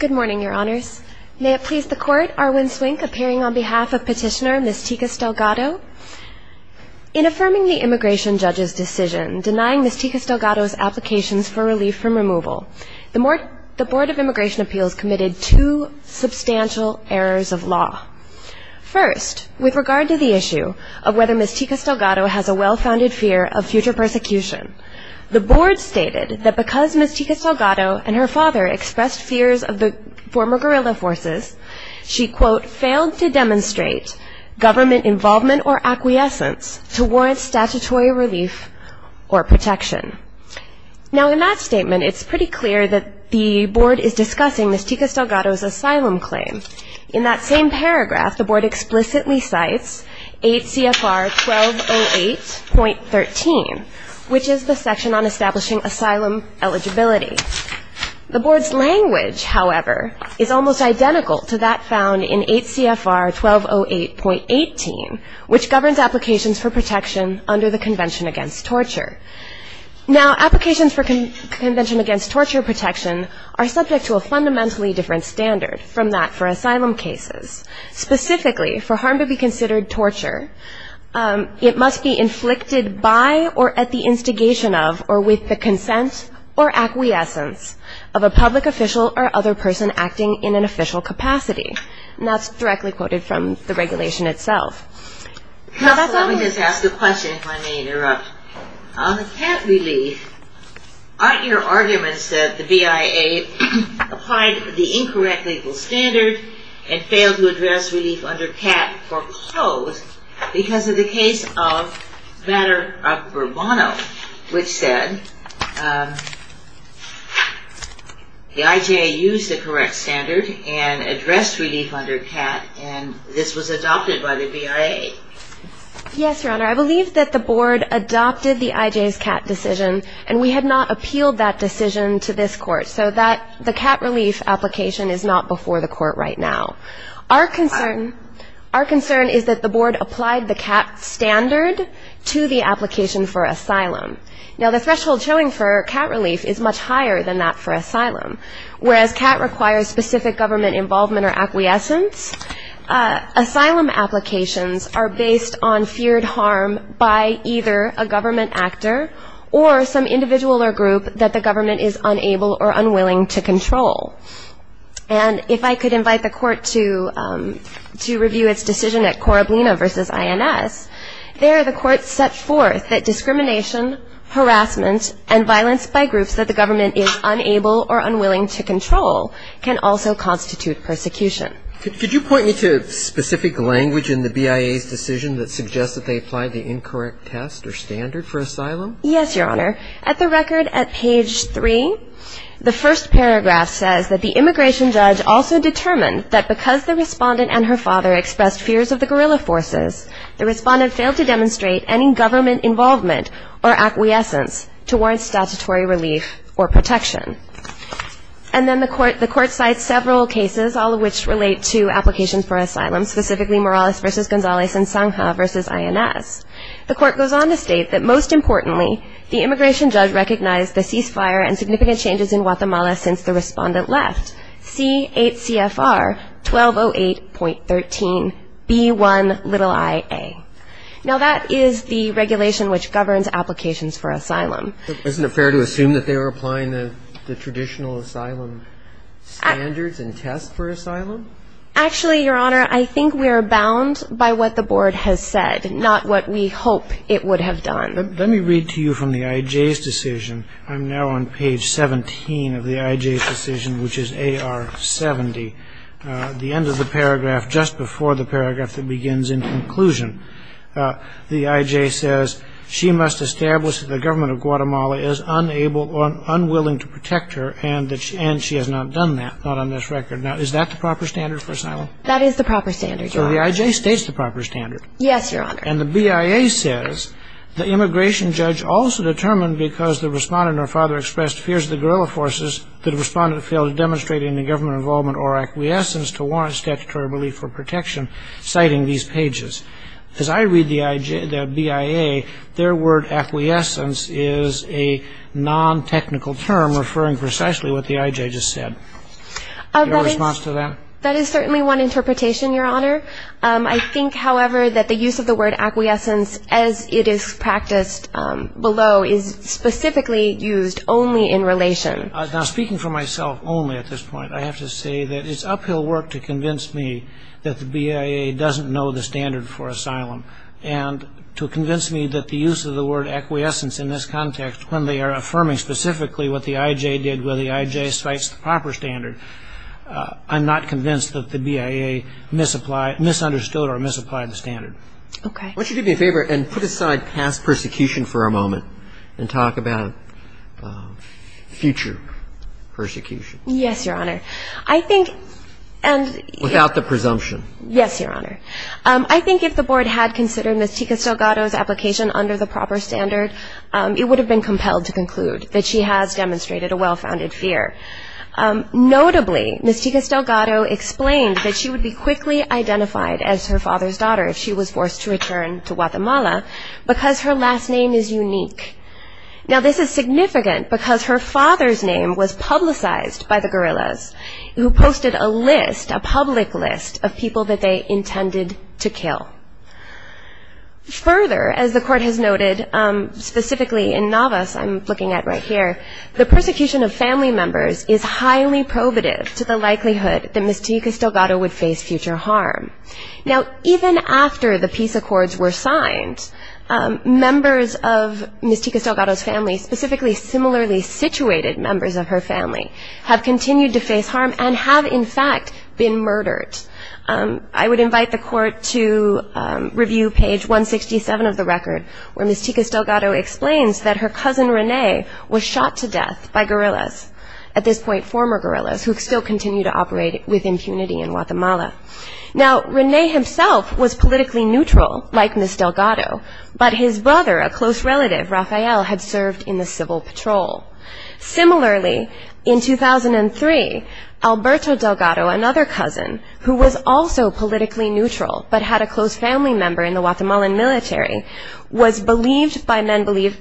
Good morning, Your Honors. May it please the Court, Arwen Swink appearing on behalf of Petitioner Ms. Ticas Delgado. In affirming the Immigration Judge's decision denying Ms. Ticas Delgado's applications for relief from removal, the Board of Immigration Appeals committed two substantial errors of law. First, with regard to the issue of whether Ms. Ticas Delgado has a well-founded fear of future persecution, the Board stated that because Ms. Ticas Delgado and her father expressed fears of the former guerrilla forces, she quote, failed to demonstrate government involvement or acquiescence to warrant statutory relief or protection. Now in that statement, it's pretty clear that the Board is discussing Ms. Ticas Delgado's asylum claim. In that same paragraph, the Board explicitly cites 8 CFR 1208.13, which is the section on establishing asylum eligibility. The Board's language, however, is almost identical to that found in 8 CFR 1208.18, which governs applications for protection under the Convention Against Torture. Now, applications for Convention Against Torture protection are subject to a fundamentally different standard from that for asylum cases. Specifically, for harm to be considered torture, it must be inflicted by or at the instigation of or with the consent or acquiescence of a public official or other person acting in an official capacity. And that's directly quoted from the regulation itself. Counsel, let me just ask a question, if I may interrupt. On the CAT relief, aren't your standards and failed to address relief under CAT foreclosed because of the case of Matter of Burbono, which said the IJ used the correct standard and addressed relief under CAT, and this was adopted by the BIA? Yes, Your Honor. I believe that the Board adopted the IJ's CAT decision, and we had not appealed that decision to this Court. So that the CAT relief application is not before the Court right now. Our concern is that the Board applied the CAT standard to the application for asylum. Now, the threshold showing for CAT relief is much higher than that for asylum. Whereas CAT requires specific government involvement or acquiescence, asylum applications are based on feared harm by either a government actor or some individual or group that the government is unable or unwilling to control. And if I could invite the Court to review its decision at Corablina v. INS, there the Court set forth that discrimination, harassment, and violence by groups that the government is unable or unwilling to control can also constitute persecution. Could you point me to specific language in the BIA's decision that suggests that they applied the incorrect test or standard for asylum? Yes, Your Honor. At the record at page 3, the first paragraph says that the immigration judge also determined that because the respondent and her father expressed fears of the guerrilla forces, the respondent failed to demonstrate any government involvement or acquiescence to warrant statutory relief or protection. And then the Court cites several cases, all of which relate to applications for asylum, specifically Morales v. Gonzalez and Sangha v. INS. The Court goes on to state that most importantly, the immigration judge recognized the ceasefire and significant changes in Guatemala since the respondent left, C8CFR 1208.13B1iA. Now that is the regulation which governs applications for asylum. Isn't it fair to assume that they were applying the traditional asylum standards and tests for asylum? Actually, Your Honor, I think we are bound by what the Board has said, not what we hope it would have done. Let me read to you from the IJ's decision. I'm now on page 17 of the IJ's decision, which is AR70. At the end of the paragraph, just before the paragraph that begins in conclusion, the IJ says, she must establish that the government of Guatemala is unable or unwilling to protect her, and that she has not done that, not on this record. Now, is that the proper standard for asylum? That is the proper standard, Your Honor. So the IJ states the proper standard? Yes, Your Honor. And the BIA says, the immigration judge also determined because the respondent or father expressed fears of the guerrilla forces, the respondent failed to demonstrate any government involvement or acquiescence to warrant statutory relief or protection, citing these pages. As I read the IJ, the BIA, their word acquiescence is a non-technical term referring for some reason to the word acquiescence, which is precisely what the IJ just said. That is certainly one interpretation, Your Honor. I think, however, that the use of the word acquiescence, as it is practiced below, is specifically used only in relation. Speaking for myself only at this point, I have to say that it's uphill work to convince me that the BIA doesn't know the standard for asylum, and to convince me that the use of the word acquiescence in this context, when they are affirming specifically what the IJ did, whether the IJ cites the proper standard, I'm not convinced that the BIA misapplied or misunderstood or misapplied the standard. Okay. Why don't you do me a favor and put aside past persecution for a moment and talk about future persecution? Yes, Your Honor. I think, and yes. Without the presumption. Yes, Your Honor. I think if the Board had considered Ms. Ticas Delgado's application under the proper standard, it would have been compelled to conclude that she has demonstrated a well-founded fear. Notably, Ms. Ticas Delgado explained that she would be quickly identified as her father's daughter if she was forced to return to Guatemala because her last name is unique. Now, this is significant because her father's name was publicized by the guerrillas who posted a list, a public list, of people that they intended to kill. Further, as the Court has noted, specifically in Navas, I'm looking at right here, the persecution of family members is highly probative to the likelihood that Ms. Ticas Delgado would face future harm. Now, even after the peace accords were signed, members of Ms. Ticas Delgado's family, specifically similarly situated members of her family, have continued to face harm and have, in fact, been murdered. I would invite the Court to review page 167 of the record where Ms. Ticas Delgado explains that her cousin, Rene, was shot to death by guerrillas, at this point former guerrillas, who still continue to operate with impunity in Guatemala. Now, Rene himself was politically neutral, like Ms. Delgado, but his brother, a close relative, Rafael, had served in the civil patrol. Similarly, in 2003, Alberto Delgado, another cousin, who was also politically neutral but had a close family member in the Guatemalan military, was murdered by men believed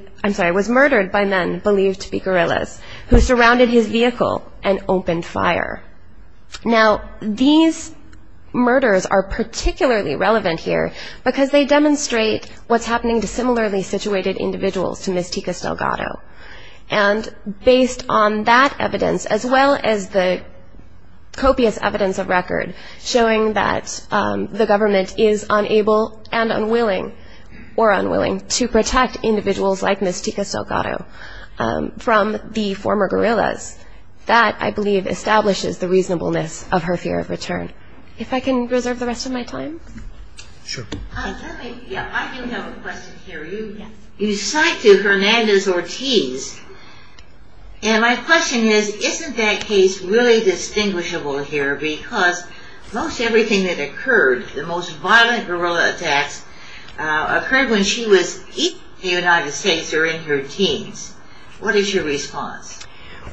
to be guerrillas who surrounded his vehicle and opened fire. Now, these murders are particularly relevant here because they demonstrate what's happening to similarly situated individuals to Ms. Ticas Delgado. And based on that evidence, as well as the copious evidence of record showing that the government is unable and unwilling, or unwilling, to protect individuals like Ms. Ticas Delgado from the former guerrillas, that, I believe, establishes the reasonableness of her fear of return. If I can reserve the rest of my time. I do have a question here. You cite to Hernandez-Ortiz, and my question is, isn't that case really distinguishable here because most everything that occurred, the most violent guerrilla attacks, occurred when she was in the United States or in her teens. What is your response?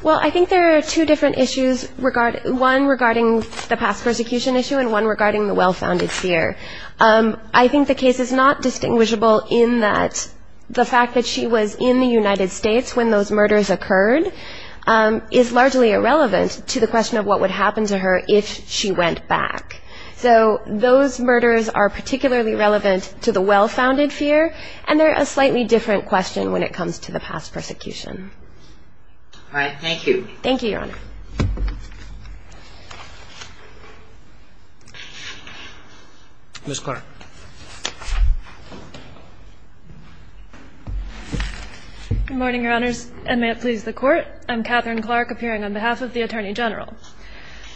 Well, I think there are two different issues, one regarding the past persecution issue and one regarding the well-founded fear. I think the case is not distinguishable in that the fact that she was in the United States when those murders occurred is largely irrelevant to the question of what would happen to her if she went back. So those murders are particularly relevant to the well-founded fear, and they're a slightly different question when it comes to the past persecution. All right. Thank you. Thank you, Your Honor. Ms. Clark. Good morning, Your Honors, and may it please the Court. I'm Katherine Clark, appearing on behalf of the Attorney General.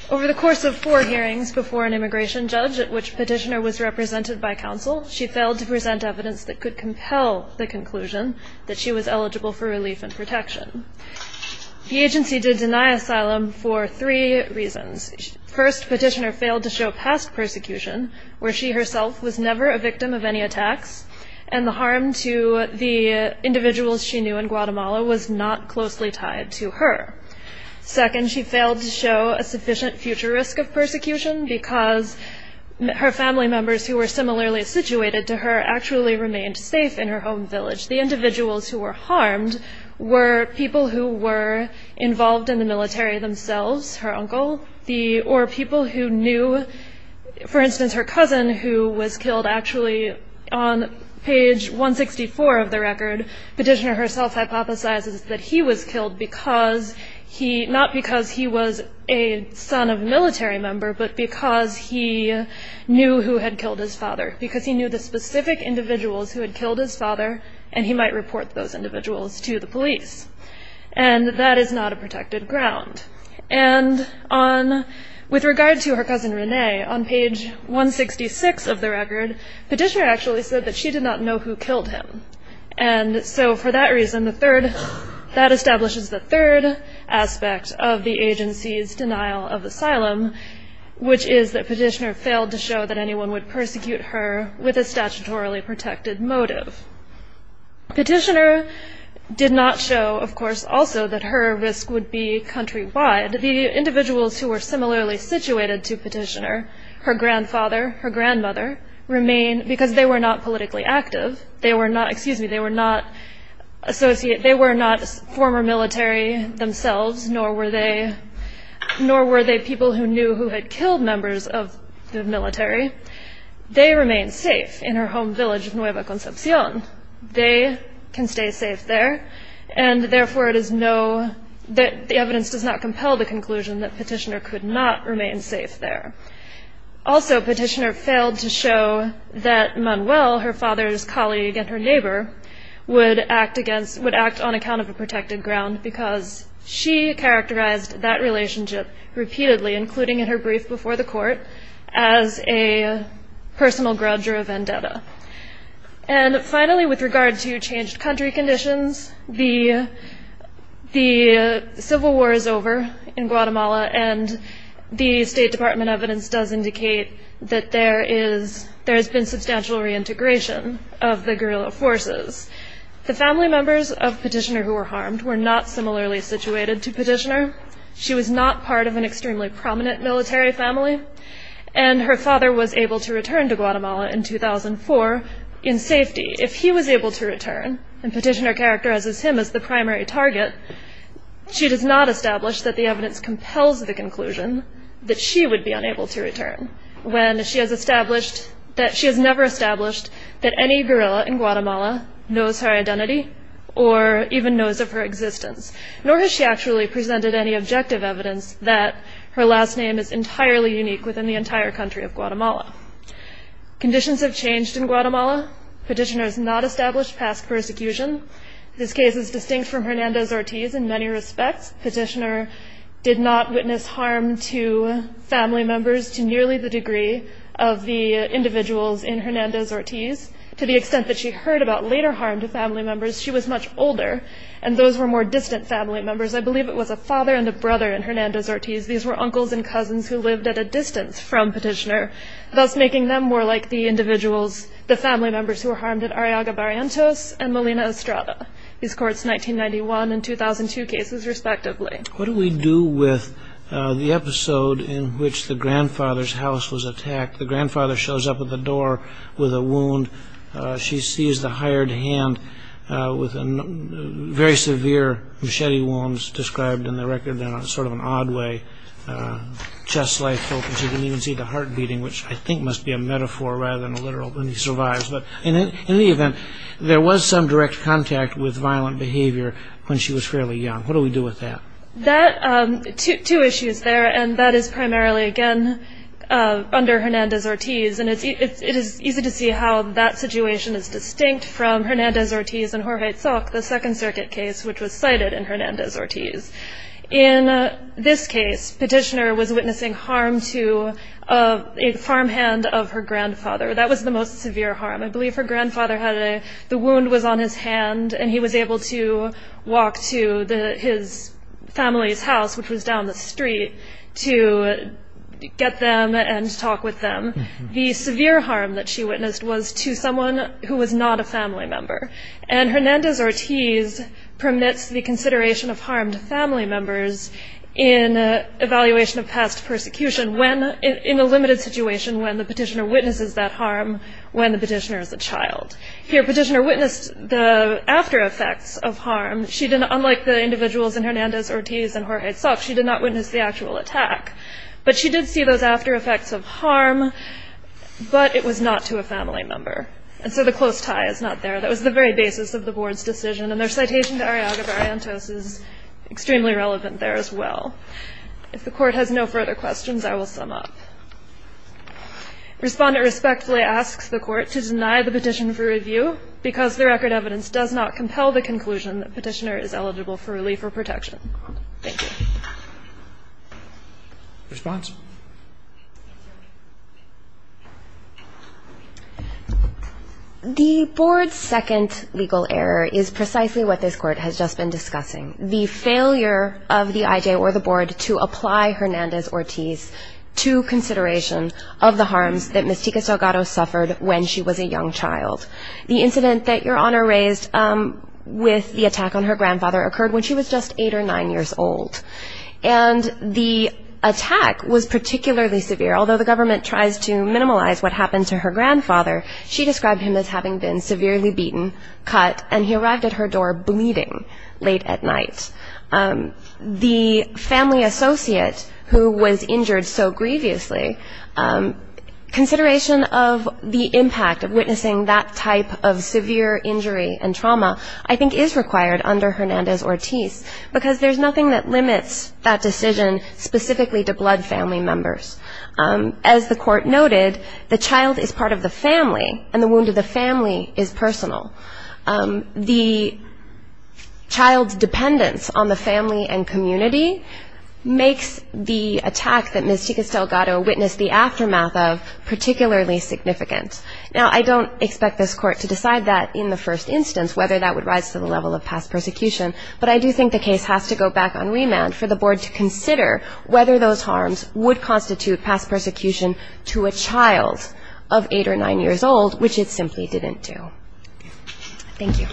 Over the course of four hearings before an immigration judge at which Petitioner was represented by counsel, she failed to present evidence that could compel the conclusion that she was eligible for relief and protection. The agency did deny asylum for three reasons. First, Petitioner failed to show past persecution, where she herself was never a victim of any attacks, and the harm to the individuals she knew in Guatemala was not closely tied to her. Second, she failed to show a sufficient future risk of persecution, because her family members who were similarly situated to her actually remained safe in her home village. The individuals who were harmed were people who were involved in the military themselves, her uncle, or people who knew, for instance, her cousin, who was killed actually on page 164 of the record. Petitioner herself hypothesizes that he was killed because he, not because he was a son of a military member, but because he knew who had killed his father, because he knew the specific individuals who had killed his father, and that is not a protected ground. With regard to her cousin, Rene, on page 166 of the record, Petitioner actually said that she did not know who killed him. That establishes the third aspect of the agency's denial of asylum, which is that Petitioner failed to show that anyone would persecute her with a statutorily protected motive. Petitioner did not show, of course, also that her risk would be countrywide. The individuals who were similarly situated to Petitioner, her grandfather, her grandmother, remain, because they were not politically active, they were not former military themselves, nor were they people who knew who had killed members of the military, they remain safe in her home village of Nueva Concepcion. They can stay safe there, and therefore it is no, the evidence does not compel the conclusion that Petitioner could not remain safe there. Also, Petitioner failed to show that Manuel, her father's colleague and her neighbor, would act on account of a protected ground, because she characterized that relationship repeatedly, including in her brief before the court, as a personal grudger of vendetta. And finally, with regard to changed country conditions, the Civil War is over in Guatemala, and the State Department evidence does indicate that there has been substantial reintegration of the guerrilla forces. The family members of Petitioner who were harmed were not similarly situated to Petitioner. She was not part of an extremely prominent military family, and her father was able to return to Guatemala in 2004 in safety. If he was able to return, and Petitioner characterizes him as the primary target, she does not establish that the evidence compels the conclusion that she would be unable to return, when she has never established that any guerrilla in Guatemala knows her identity, or even knows of her existence, nor has she actually presented any objective evidence that her last name is entirely unique within the entire country of Guatemala. Conditions have changed in Guatemala. Petitioner has not established past persecution. This case is distinct from Hernandez-Ortiz in many respects. Petitioner did not witness harm to family members to nearly the degree of the individuals in Hernandez-Ortiz, to the extent that she heard about later harm to family members. She was much older, and those were more distant family members. I believe it was a father and a brother in Hernandez-Ortiz. These were uncles and cousins who lived at a distance from Petitioner, thus making them more like the individuals, the family members, who were harmed at Arriaga Barrientos and Molina Estrada. These courts 1991 and 2002 cases, respectively. What do we do with the episode in which the grandfather's house was attacked? The grandfather shows up at the door with a wound. She sees the hired hand with very severe machete wounds described in the record in sort of an odd way, chest-like open. She didn't even see the heart beating, which I think must be a metaphor rather than a literal when he survives. In any event, there was some direct contact with violent behavior when she was fairly young. What do we do with that? Two issues there, and that is primarily again under Hernandez-Ortiz. It is easy to see how that situation is distinct from Hernandez-Ortiz and Jorge Zoc, the Second Circuit case, which was cited in Hernandez-Ortiz. In this case, Petitioner was witnessing harm to a farmhand of her grandfather. That was the most severe harm. I believe her grandfather had the wound was on his hand, and he was able to walk to his family's house, which was down the street, to get them and talk with them. The severe harm that she witnessed was to someone who was not a family member, and Hernandez-Ortiz permits the consideration of harmed family members in evaluation of past persecution in a limited situation when the petitioner witnesses that harm when the petitioner is a child. Here, Petitioner witnessed the after-effects of harm. Unlike the individuals in Hernandez-Ortiz and Jorge Zoc, she did not witness the actual attack. But she did see those after-effects of harm, but it was not to a family member. And so the close tie is not there. That was the very basis of the Board's decision, and their citation to Arriaga-Variantos is extremely relevant there as well. If the Court has no further questions, I will sum up. Respondent respectfully asks the Court to deny the petition for review because the record evidence does not compel the conclusion that Petitioner is eligible for relief or protection. Thank you. Response? The Board's second legal error is precisely what this Court has just been discussing, the failure of the IJ or the Board to apply Hernandez-Ortiz to consideration of the harms that Ms. Ticas Delgado suffered when she was a young child. The incident that Your Honor raised with the attack on her grandfather occurred when she was just eight or nine years old. And the attack was particularly severe. Although the government tries to minimize what happened to her grandfather, she described him as having been severely beaten, cut, and he arrived at her door bleeding late at night. The family associate who was injured so grievously, consideration of the impact of witnessing that type of severe injury and trauma, I think is required under Hernandez-Ortiz, because there's nothing that limits that decision specifically to blood family members. There's nothing that limits that decision specifically to blood family members. There's nothing that limits that decision specifically to blood family members. The child's dependence on the family and community makes the attack that Ms. Ticas Delgado witnessed the aftermath of particularly significant. Now, I don't expect this Court to decide that in the first instance, whether that would rise to the level of past persecution, but I do think the case has to go back on remand for the Board to consider whether those harms would constitute past persecution to a child of eight or nine years old, which it simply didn't do. Thank you.